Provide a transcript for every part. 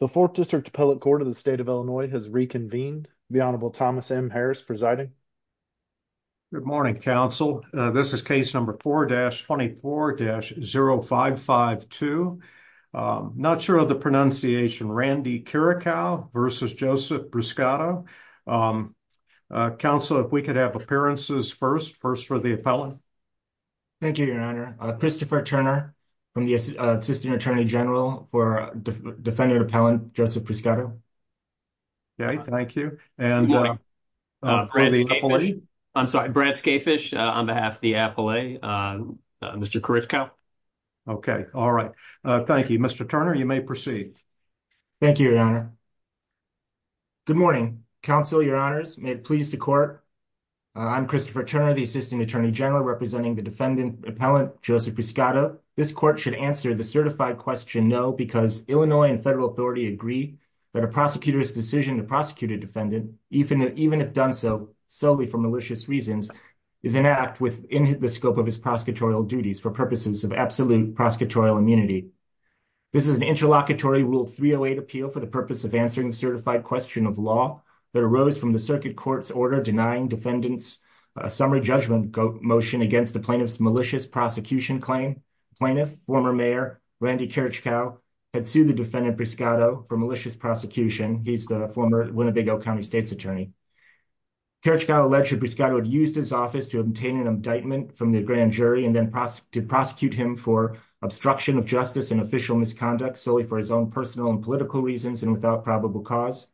The fourth district appellate court of the state of Illinois has reconvened. The honorable Thomas M. Harris presiding. Good morning, counsel. This is case number 4-24-0552. Not sure of the pronunciation. Randy Kirichkow v. Joseph Bruscato. Counsel, if we could have appearances first. First for the appellant. Thank you, your honor. Christopher Turner from the Assistant Attorney General for Defendant Appellant Joseph Bruscato. Okay, thank you. I'm sorry, Brad Skafish on behalf of the appellate. Mr. Kirichkow. Okay, all right. Thank you, Mr. Turner. You may proceed. Thank you, your honor. Good morning, counsel, your honors. May it please the court. I'm Christopher Turner, the Assistant Attorney General representing the defendant Appellant Joseph Bruscato. This court should answer the certified question no because Illinois and federal authority agree that a prosecutor's decision to prosecute a defendant, even if done so solely for malicious reasons, is an act within the scope of his prosecutorial duties for purposes of absolute prosecutorial immunity. This is an interlocutory Rule 308 appeal for the purpose of answering the certified question of law that arose from the circuit court's order denying defendants a summary judgment motion against the plaintiff's malicious prosecution claim. Plaintiff, former mayor Randy Kirichkow, had sued the defendant Bruscato for malicious prosecution. He's the former Winnebago County State's attorney. Kirichkow alleged Bruscato had used his office to obtain an indictment from the grand jury and then prosecute him for obstruction of justice and official misconduct solely for his own personal and political reasons and without probable cause.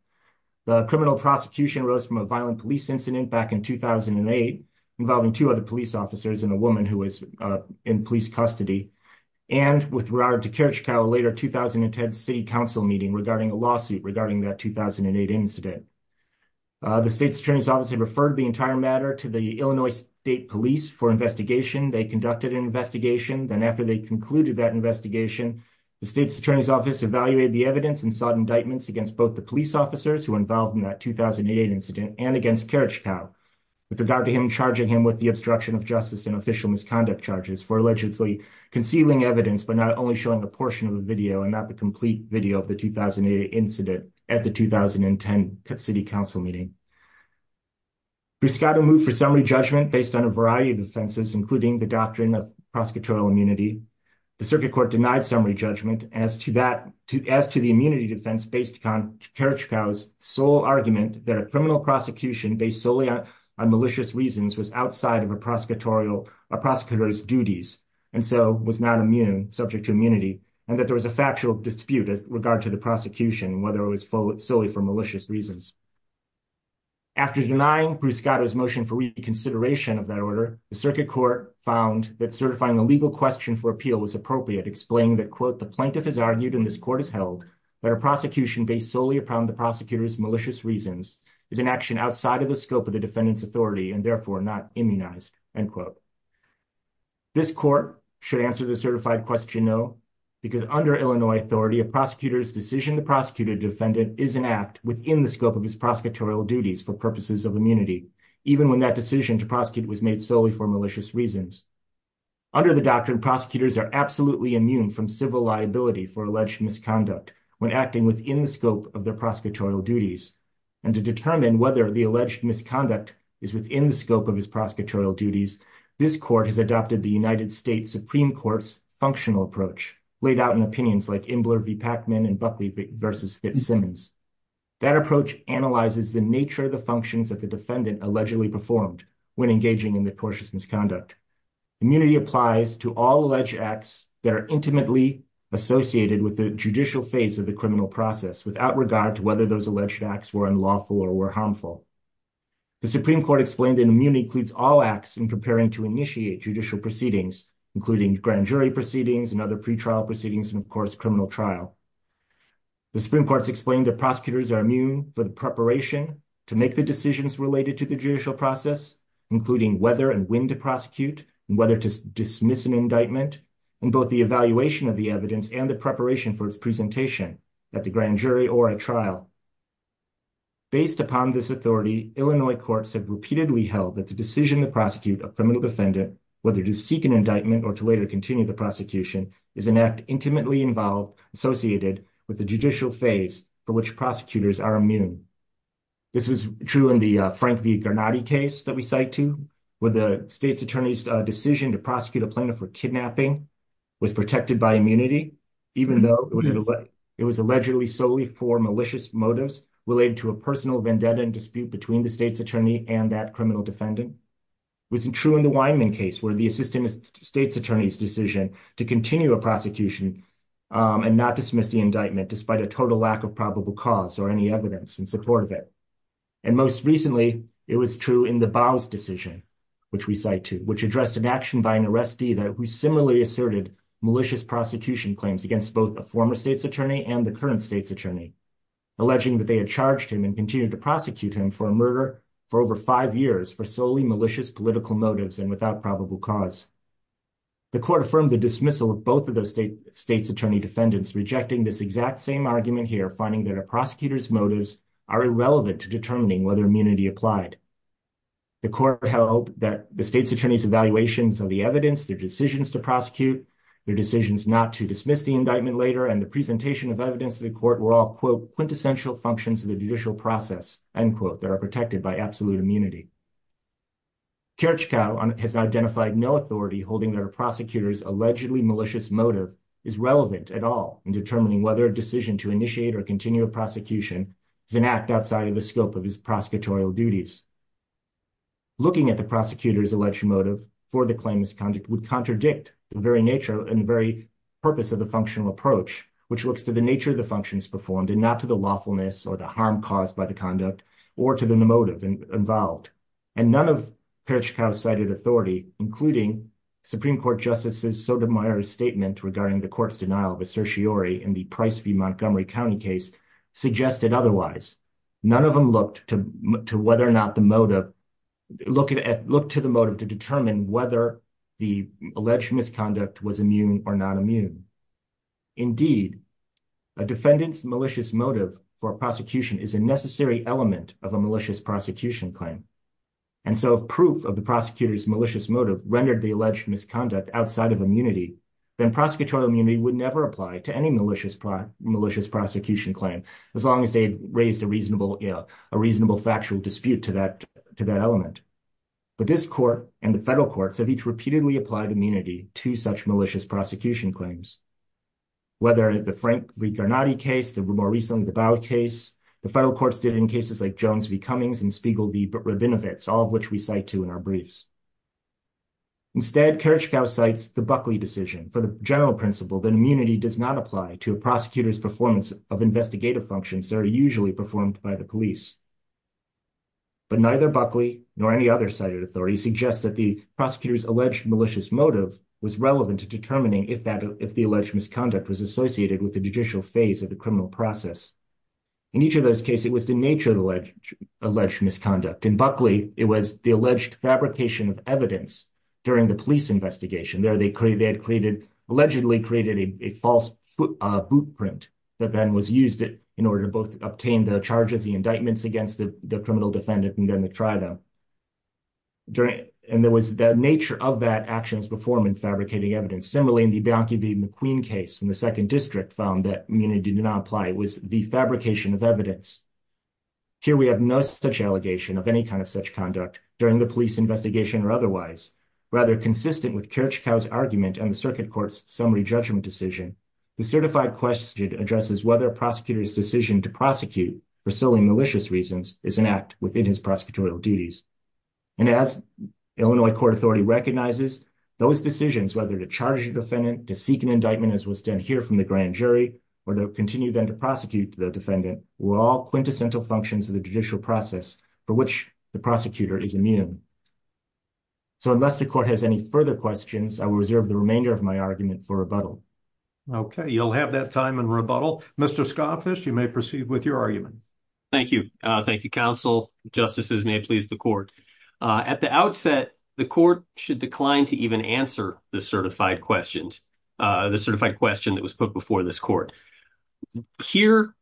The criminal prosecution arose from a violent police incident back in 2008 involving two other police officers and a woman who was in police custody and with regard to Kirichkow later 2010 city council meeting regarding a lawsuit regarding that 2008 incident. The state's attorney's office had referred the entire matter to the Illinois State Police for investigation. They conducted an investigation then after they concluded that investigation the state's attorney's office evaluated the evidence and sought indictments against both the police officers who involved in that 2008 incident and against Kirichkow with regard to him charging him with the obstruction of justice and official misconduct charges for allegedly concealing evidence but not only showing a portion of the video and not the complete video of the 2008 incident at the 2010 city council meeting. Bruscato moved for summary judgment based on a variety of offenses including the doctrine of prosecutorial immunity. The circuit court denied summary judgment as to that to as to the immunity defense based on Kirichkow's sole argument that a criminal prosecution based solely on malicious reasons was outside of a prosecutorial prosecutor's duties and so was not immune subject to immunity and that there was a factual dispute as regard to the prosecution whether it was solely for malicious reasons. After denying Bruscato's motion for reconsideration of that order the circuit court found that certifying a legal question for appeal was appropriate explaining that quote the plaintiff has argued and this court is held that a prosecution based solely upon the prosecutor's malicious reasons is an action outside of the scope of the defendant's authority and therefore not immunized end quote. This court should answer the certified question no because under Illinois authority a prosecutor's decision to prosecute a defendant is an act within the scope of his prosecutorial duties for purposes of immunity even when that decision to prosecute was made solely for malicious reasons. Under the doctrine prosecutors are absolutely immune from civil liability for alleged misconduct when acting within the scope of their prosecutorial duties and to determine whether the alleged misconduct is within the scope of his prosecutorial duties this court has adopted the United States Supreme Court's functional approach laid out in opinions like Imbler v. Pacman and Buckley v. Fitzsimmons. That approach analyzes the nature of the functions that the defendant allegedly performed when engaging in the tortious misconduct. Immunity applies to all alleged acts that are intimately associated with the judicial phase of the criminal process without regard to whether those alleged acts were unlawful or were harmful. The Supreme Court explained that immunity includes all acts in preparing to initiate judicial proceedings including grand jury proceedings and other pre-trial proceedings and of course criminal trial. The Supreme Court's explained that prosecutors are immune for the preparation to make the decisions related to the judicial process including whether and when to prosecute and whether to dismiss an indictment and both the evaluation of the evidence and the preparation for its presentation at the grand jury or a trial. Based upon this authority Illinois courts have repeatedly held that the decision to prosecute a criminal defendant whether to seek an indictment or to later continue the prosecution is an act intimately involved associated with the judicial phase for which prosecutors are immune. This was true in the Frank v. Garnotti case that we cite to where the state's attorney's decision to prosecute a plaintiff for kidnapping was protected by immunity even though it was allegedly solely for malicious motives related to a personal vendetta and dispute between the state's attorney and that criminal defendant. It wasn't true in the attorney's decision to continue a prosecution and not dismiss the indictment despite a total lack of probable cause or any evidence in support of it and most recently it was true in the bow's decision which we cite to which addressed an action by an arrestee that we similarly asserted malicious prosecution claims against both a former state's attorney and the current state's attorney alleging that they had charged him and continued to prosecute him for a murder for over five years for solely malicious political motives and without probable cause. The court affirmed the dismissal of both of those state's attorney defendants rejecting this exact same argument here finding that a prosecutor's motives are irrelevant to determining whether immunity applied. The court held that the state's attorney's evaluations of the evidence their decisions to prosecute their decisions not to dismiss the indictment later and the presentation of evidence to the court were all quote quintessential functions of the judicial process end quote are protected by absolute immunity. Kirchgau has identified no authority holding their prosecutors allegedly malicious motive is relevant at all in determining whether a decision to initiate or continue a prosecution is an act outside of the scope of his prosecutorial duties. Looking at the prosecutor's alleged motive for the claimant's conduct would contradict the very nature and very purpose of the functional approach which looks to the nature of the functions performed and not to the lawfulness or the harm caused by the conduct or to the motive involved and none of Kirchgau cited authority including Supreme Court Justices Sotomayor's statement regarding the court's denial of a certiorari in the Price v. Montgomery County case suggested otherwise. None of them looked to whether or not the motive look at look to the motive to determine whether the alleged misconduct was immune or non-immune. Indeed a defendant's malicious motive for prosecution is a necessary element of a malicious prosecution claim and so if proof of the prosecutor's malicious motive rendered the alleged misconduct outside of immunity then prosecutorial immunity would never apply to any malicious prosecution claim as long as they had raised a reasonable you know a reasonable factual dispute to that to that element but this court and the federal courts have each repeatedly applied immunity to such malicious prosecution claims whether the Frank v. Garnotti case the more recently the Bowd case the federal courts did in cases like Jones v. Cummings and Spiegel v. Rabinowitz all of which we cite to in our briefs. Instead Kirchgau cites the Buckley decision for the general principle that immunity does not apply to a prosecutor's performance of investigative functions that are usually performed by the police but neither Buckley nor any other cited authority suggests that the prosecutor's alleged malicious motive was relevant to determining if that if the alleged misconduct was associated with the judicial phase of the criminal process. In each of those cases it was the nature of the alleged misconduct in Buckley it was the alleged fabrication of evidence during the police investigation there they created they had created allegedly created a false footprint that then was used in order to both obtain the charges the indictments against the criminal defendant and then to try them during and there was the nature of that actions before man fabricating evidence similarly in the Bianchi v. McQueen case from the second district found that immunity did not apply it was the fabrication of evidence here we have no such allegation of any kind of such conduct during the police investigation or otherwise rather consistent with Kirchgau's argument and the circuit court's summary judgment decision the certified question addresses whether a prosecutor's decision to prosecute for solely malicious reasons is an act within his prosecutorial duties and as Illinois court authority recognizes those decisions whether to charge the defendant to seek an indictment as was done here from the grand jury or to continue then to prosecute the defendant were all quintessential functions of the judicial process for which the prosecutor is immune so unless the court has any questions i will reserve the remainder of my argument for rebuttal okay you'll have that time and rebuttal mr scoffish you may proceed with your argument thank you thank you counsel justices may please the court at the outset the court should decline to even answer the certified questions uh the certified question that was put before this court here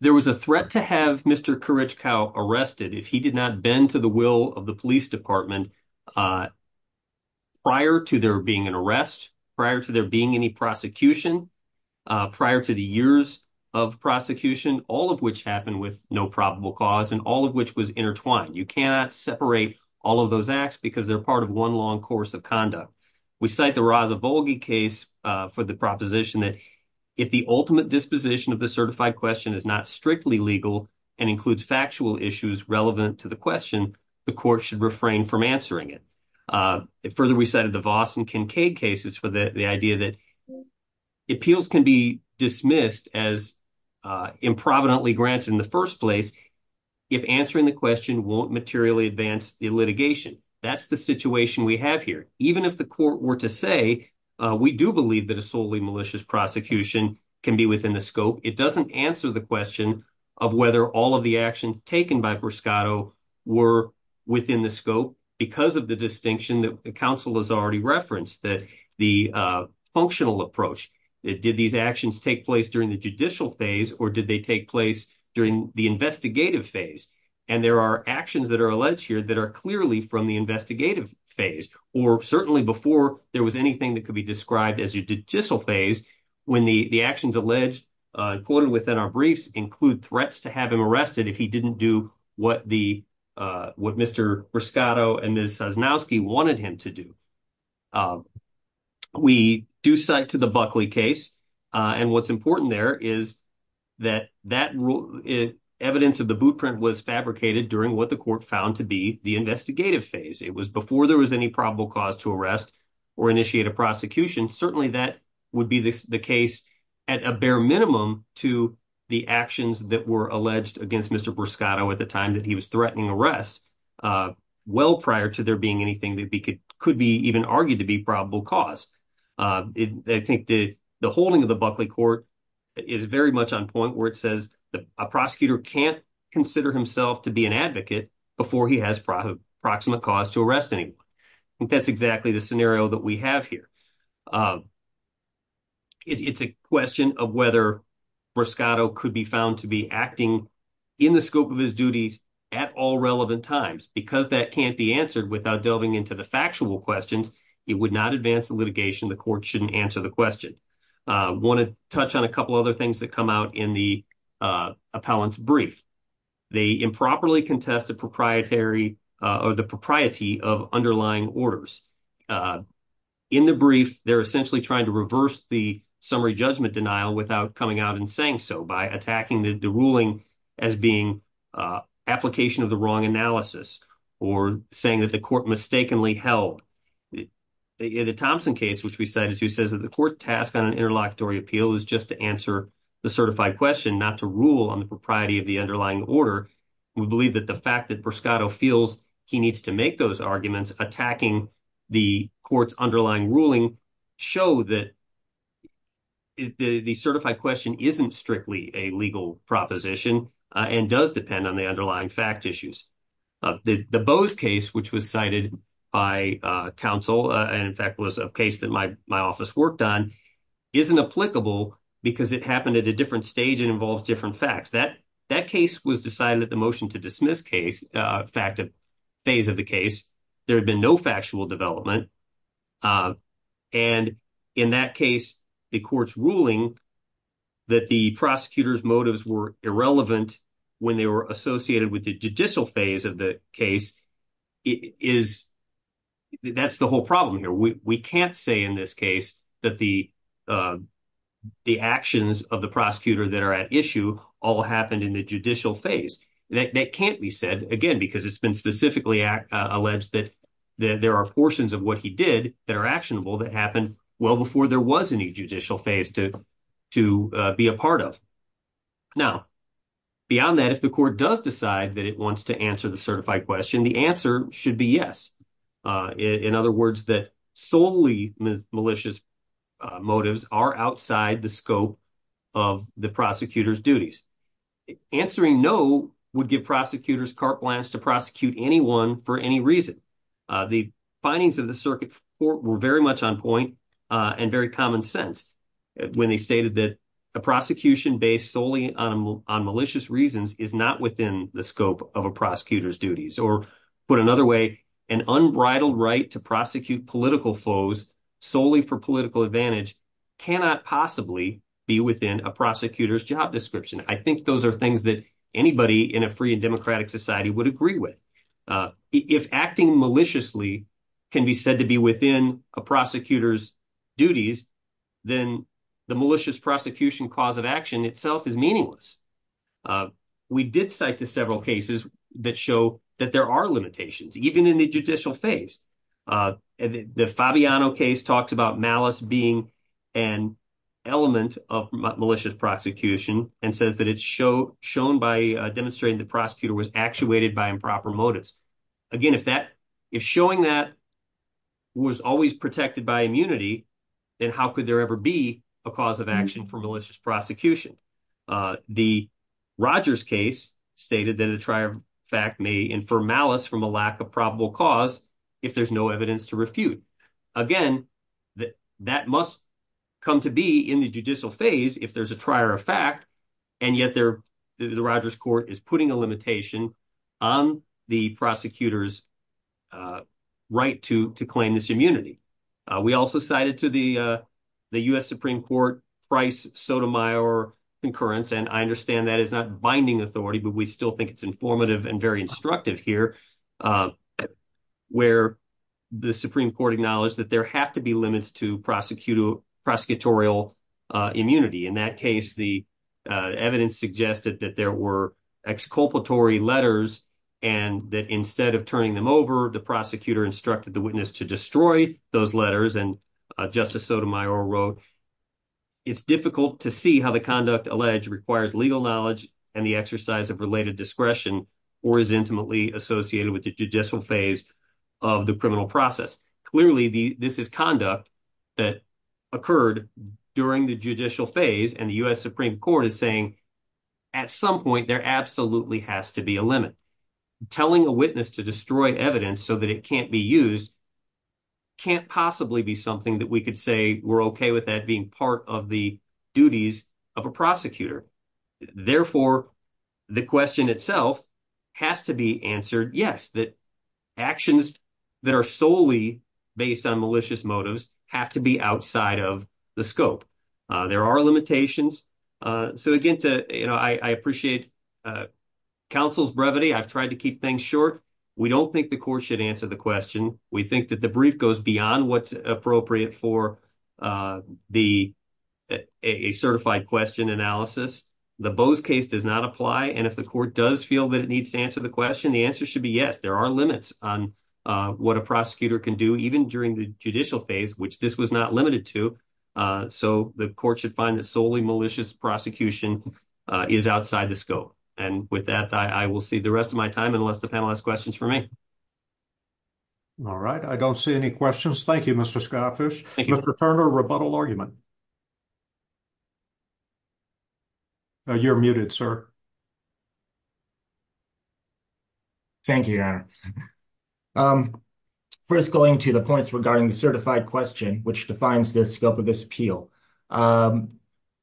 there was a threat to have mr arrested if he did not bend to the will of the police department uh prior to there being an arrest prior to there being any prosecution uh prior to the years of prosecution all of which happened with no probable cause and all of which was intertwined you cannot separate all of those acts because they're part of one long course of conduct we cite the raza volgi case uh for the proposition that if the ultimate disposition of the certified question is not strictly legal and includes factual issues relevant to the question the court should refrain from answering it uh it further recited the voss and kincaid cases for the the idea that appeals can be dismissed as uh improvidently granted in the first place if answering the question won't materially advance the litigation that's the situation we have here even if the court were to say uh we do believe that a solely malicious prosecution can be within the scope it doesn't answer the question of whether all of the actions taken by perscotto were within the scope because of the distinction that the council has already referenced that the uh functional approach did these actions take place during the judicial phase or did they take place during the investigative phase and there are actions that are alleged here that are clearly from the investigative phase or certainly before there was anything that could be described as a judicial phase when the the actions alleged uh quoted within our briefs include threats to have him arrested if he didn't do what the uh what mr riscotto and ms sasnowski wanted him to do we do cite to the buckley case uh and what's important there is that that evidence of the bootprint was fabricated during what the court found to be the investigative phase it was before there was any probable cause to arrest or initiate a prosecution certainly that would be the case at a bare minimum to the actions that were alleged against mr bruscato at the time that he was threatening arrest uh well prior to there being anything that could be even argued to be probable cause uh i think the the holding of the buckley court is very much on point where it says a prosecutor can't consider himself to be an advocate before he has pro proximate cause to arrest anyone i think that's exactly the scenario that we have here um it's a question of whether bruscato could be found to be acting in the scope of his duties at all relevant times because that can't be answered without delving into the factual questions it would not advance the litigation the court shouldn't answer the question uh want to touch on a couple other that come out in the uh appellant's brief they improperly contest the proprietary uh or the propriety of underlying orders uh in the brief they're essentially trying to reverse the summary judgment denial without coming out and saying so by attacking the ruling as being uh application of the wrong analysis or saying that the court mistakenly held the thompson case which we cited the court task on an interlocutory appeal is just to answer the certified question not to rule on the propriety of the underlying order we believe that the fact that bruscato feels he needs to make those arguments attacking the court's underlying ruling show that the the certified question isn't strictly a legal proposition and does depend on the underlying fact issues the bows case which was cited by uh council and in fact was a case that my my office worked on isn't applicable because it happened at a different stage it involves different facts that that case was decided at the motion to dismiss case uh fact of phase of the case there had been no factual development uh and in that case the court's ruling that the prosecutor's motives were irrelevant when they were associated with the judicial phase of the case is that's the whole problem here we can't say in this case that the uh the actions of the prosecutor that are at issue all happened in the judicial phase that can't be said again because it's been specifically alleged that that there are portions of what he did that are actionable that happened well before there was any judicial phase to to be a part of now beyond that if the court does decide that it wants to answer the certified question the answer should be yes uh in other words that solely malicious motives are outside the scope of the prosecutor's duties answering no would give prosecutors carte blanche to prosecute anyone for any reason uh the findings of the circuit were very much on point uh and very common sense when they stated that a prosecution based solely on malicious reasons is not within the scope of a prosecutor's duties or put another way an unbridled right to prosecute political foes solely for political advantage cannot possibly be within a prosecutor's job description i think those are things that anybody in a free and a prosecutor's duties then the malicious prosecution cause of action itself is meaningless we did cite to several cases that show that there are limitations even in the judicial phase the fabiano case talks about malice being an element of malicious prosecution and says that it's show shown by demonstrating the prosecutor was actuated by improper motives again if that if showing that was always protected by immunity then how could there ever be a cause of action for malicious prosecution uh the rogers case stated that a trier fact may infer malice from a lack of probable cause if there's no evidence to refute again that that must come to be in the judicial phase if there's a trier of fact and yet there the rogers court is putting a limitation on the prosecutor's uh right to to claim this immunity uh we also cited to the uh the u.s supreme court price sotomayor concurrence and i understand that is not binding authority but we still think it's informative and very instructive here uh where the supreme court acknowledged that there have to be limits to prosecutor prosecutorial uh immunity in that case the uh evidence suggested that there were exculpatory letters and that instead of turning them over the prosecutor instructed the witness to destroy those letters and justice sotomayor wrote it's difficult to see how the conduct alleged requires legal knowledge and the exercise of related discretion or is intimately associated with the judicial phase of the criminal process clearly the this conduct that occurred during the judicial phase and the u.s supreme court is saying at some point there absolutely has to be a limit telling a witness to destroy evidence so that it can't be used can't possibly be something that we could say we're okay with that being part of the duties of a prosecutor therefore the question itself has to be answered yes that actions that are solely based on malicious motives have to be outside of the scope uh there are limitations uh so again to you know i i appreciate uh counsel's brevity i've tried to keep things short we don't think the court should answer the question we think that the brief goes beyond what's appropriate for uh the a certified question analysis the bows case does not apply and if the court does feel that it needs to answer the question the answer should be yes there are limits on uh what a prosecutor can do even during the judicial phase which this was not limited to so the court should find that solely malicious prosecution is outside the scope and with that i will see the rest of my time unless the panel has questions for me all right i don't see any questions thank you mr skyfish thank you mr turner rebuttal argument you're muted sir thank you your honor um first going to the points regarding the certified question which defines the scope of this appeal um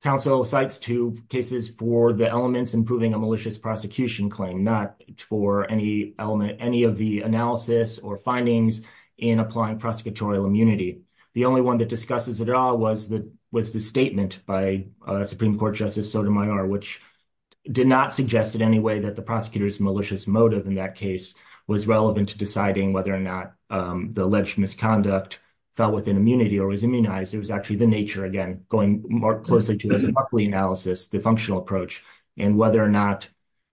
council cites two cases for the elements improving a malicious prosecution claim not for any element any of the analysis or findings in applying prosecutorial immunity the only one that discusses it all was that was the statement by uh supreme court justice sotomayor which did not suggest in any way that the prosecutor's malicious motive in that case was relevant to deciding whether or not um the alleged misconduct fell within immunity or was immunized it was actually the nature again going more closely to the analysis the functional approach and whether or not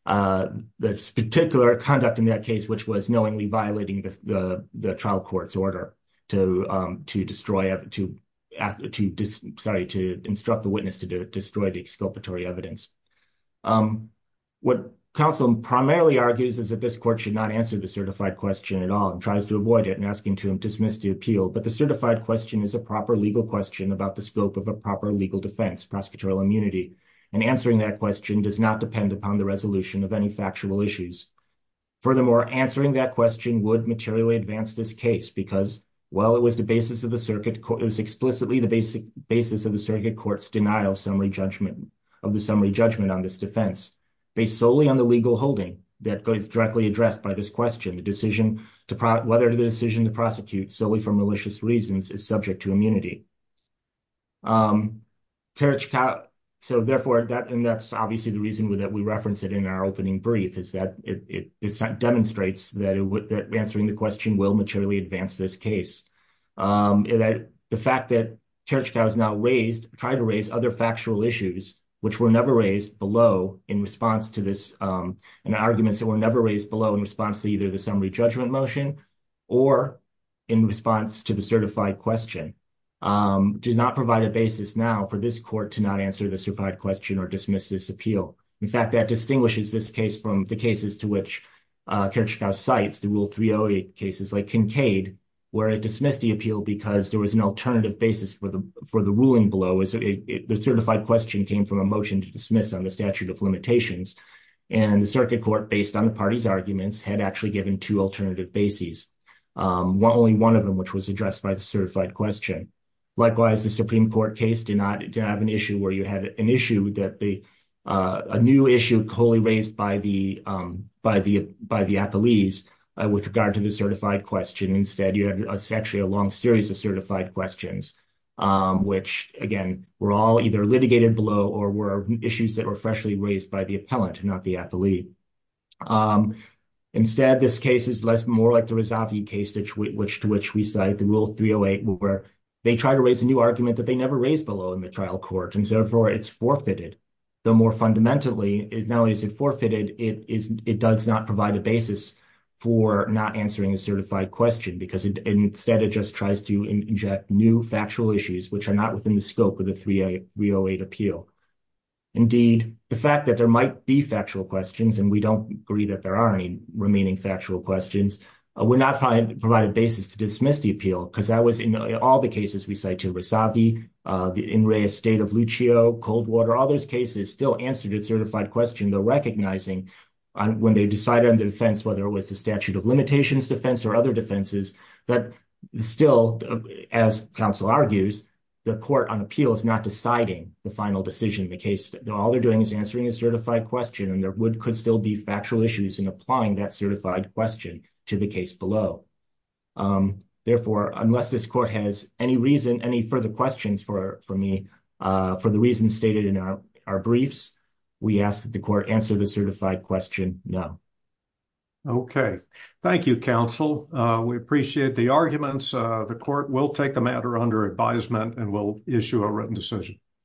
uh this particular conduct in that case which was knowingly violating the the trial court's order to um to destroy to ask to sorry to instruct the witness to do it evidence um what council primarily argues is that this court should not answer the certified question at all and tries to avoid it and asking to dismiss the appeal but the certified question is a proper legal question about the scope of a proper legal defense prosecutorial immunity and answering that question does not depend upon the resolution of any factual issues furthermore answering that question would materially advance this case because well it was the basis of the circuit it was explicitly the basic basis of the circuit court's denial summary judgment of the summary judgment on this defense based solely on the legal holding that is directly addressed by this question the decision to whether the decision to prosecute solely for malicious reasons is subject to immunity um carriage cow so therefore that and that's obviously the reason that we reference it in our opening brief is that it it demonstrates that it would that answering the question will materially advance this case um that the fact that carriage cow is not raised try to raise other factual issues which were never raised below in response to this um and arguments that were never raised below in response to either the summary judgment motion or in response to the certified question um does not provide a basis now for this court to not answer the certified question or dismiss this appeal in fact that distinguishes this case from the cases to which uh carriage cow cites the rule 308 cases like kinkade where it dismissed the appeal because there was an alternative basis for the for the ruling below as the certified question came from a motion to dismiss on the statute of limitations and the circuit court based on the party's arguments had actually given two alternative bases um only one of them which was addressed by the certified question likewise the supreme court case did not have an issue where you had an issue that the uh a new issue wholly raised by the um by the by the appellees with regard to the certified question instead you had essentially a long series of certified questions um which again were all either litigated below or were issues that were freshly raised by the appellant not the appellee um instead this case is less more like the razavi case to which to which we cite the rule 308 where they try to raise a new argument that they never raised below in the trial court and therefore it's forfeited though more fundamentally is now is it forfeited it is it does not provide a basis for not answering a certified question because instead it just tries to inject new factual issues which are not within the scope of the 308 appeal indeed the fact that there might be factual questions and we don't agree that there are any remaining factual questions uh we're not trying to provide a basis to dismiss the appeal because that was in all the cases we cite to razavi uh the in re estate of cold water all those cases still answer to the certified question they're recognizing when they decide on the defense whether it was the statute of limitations defense or other defenses that still as counsel argues the court on appeal is not deciding the final decision in the case all they're doing is answering a certified question and there would could still be factual issues in applying that certified question to the case below um therefore unless this court has any reason any further questions for for me uh for the reasons stated in our our briefs we ask that the court answer the certified question no okay thank you counsel uh we appreciate the arguments uh the court will take the matter under advisement and will issue a written decision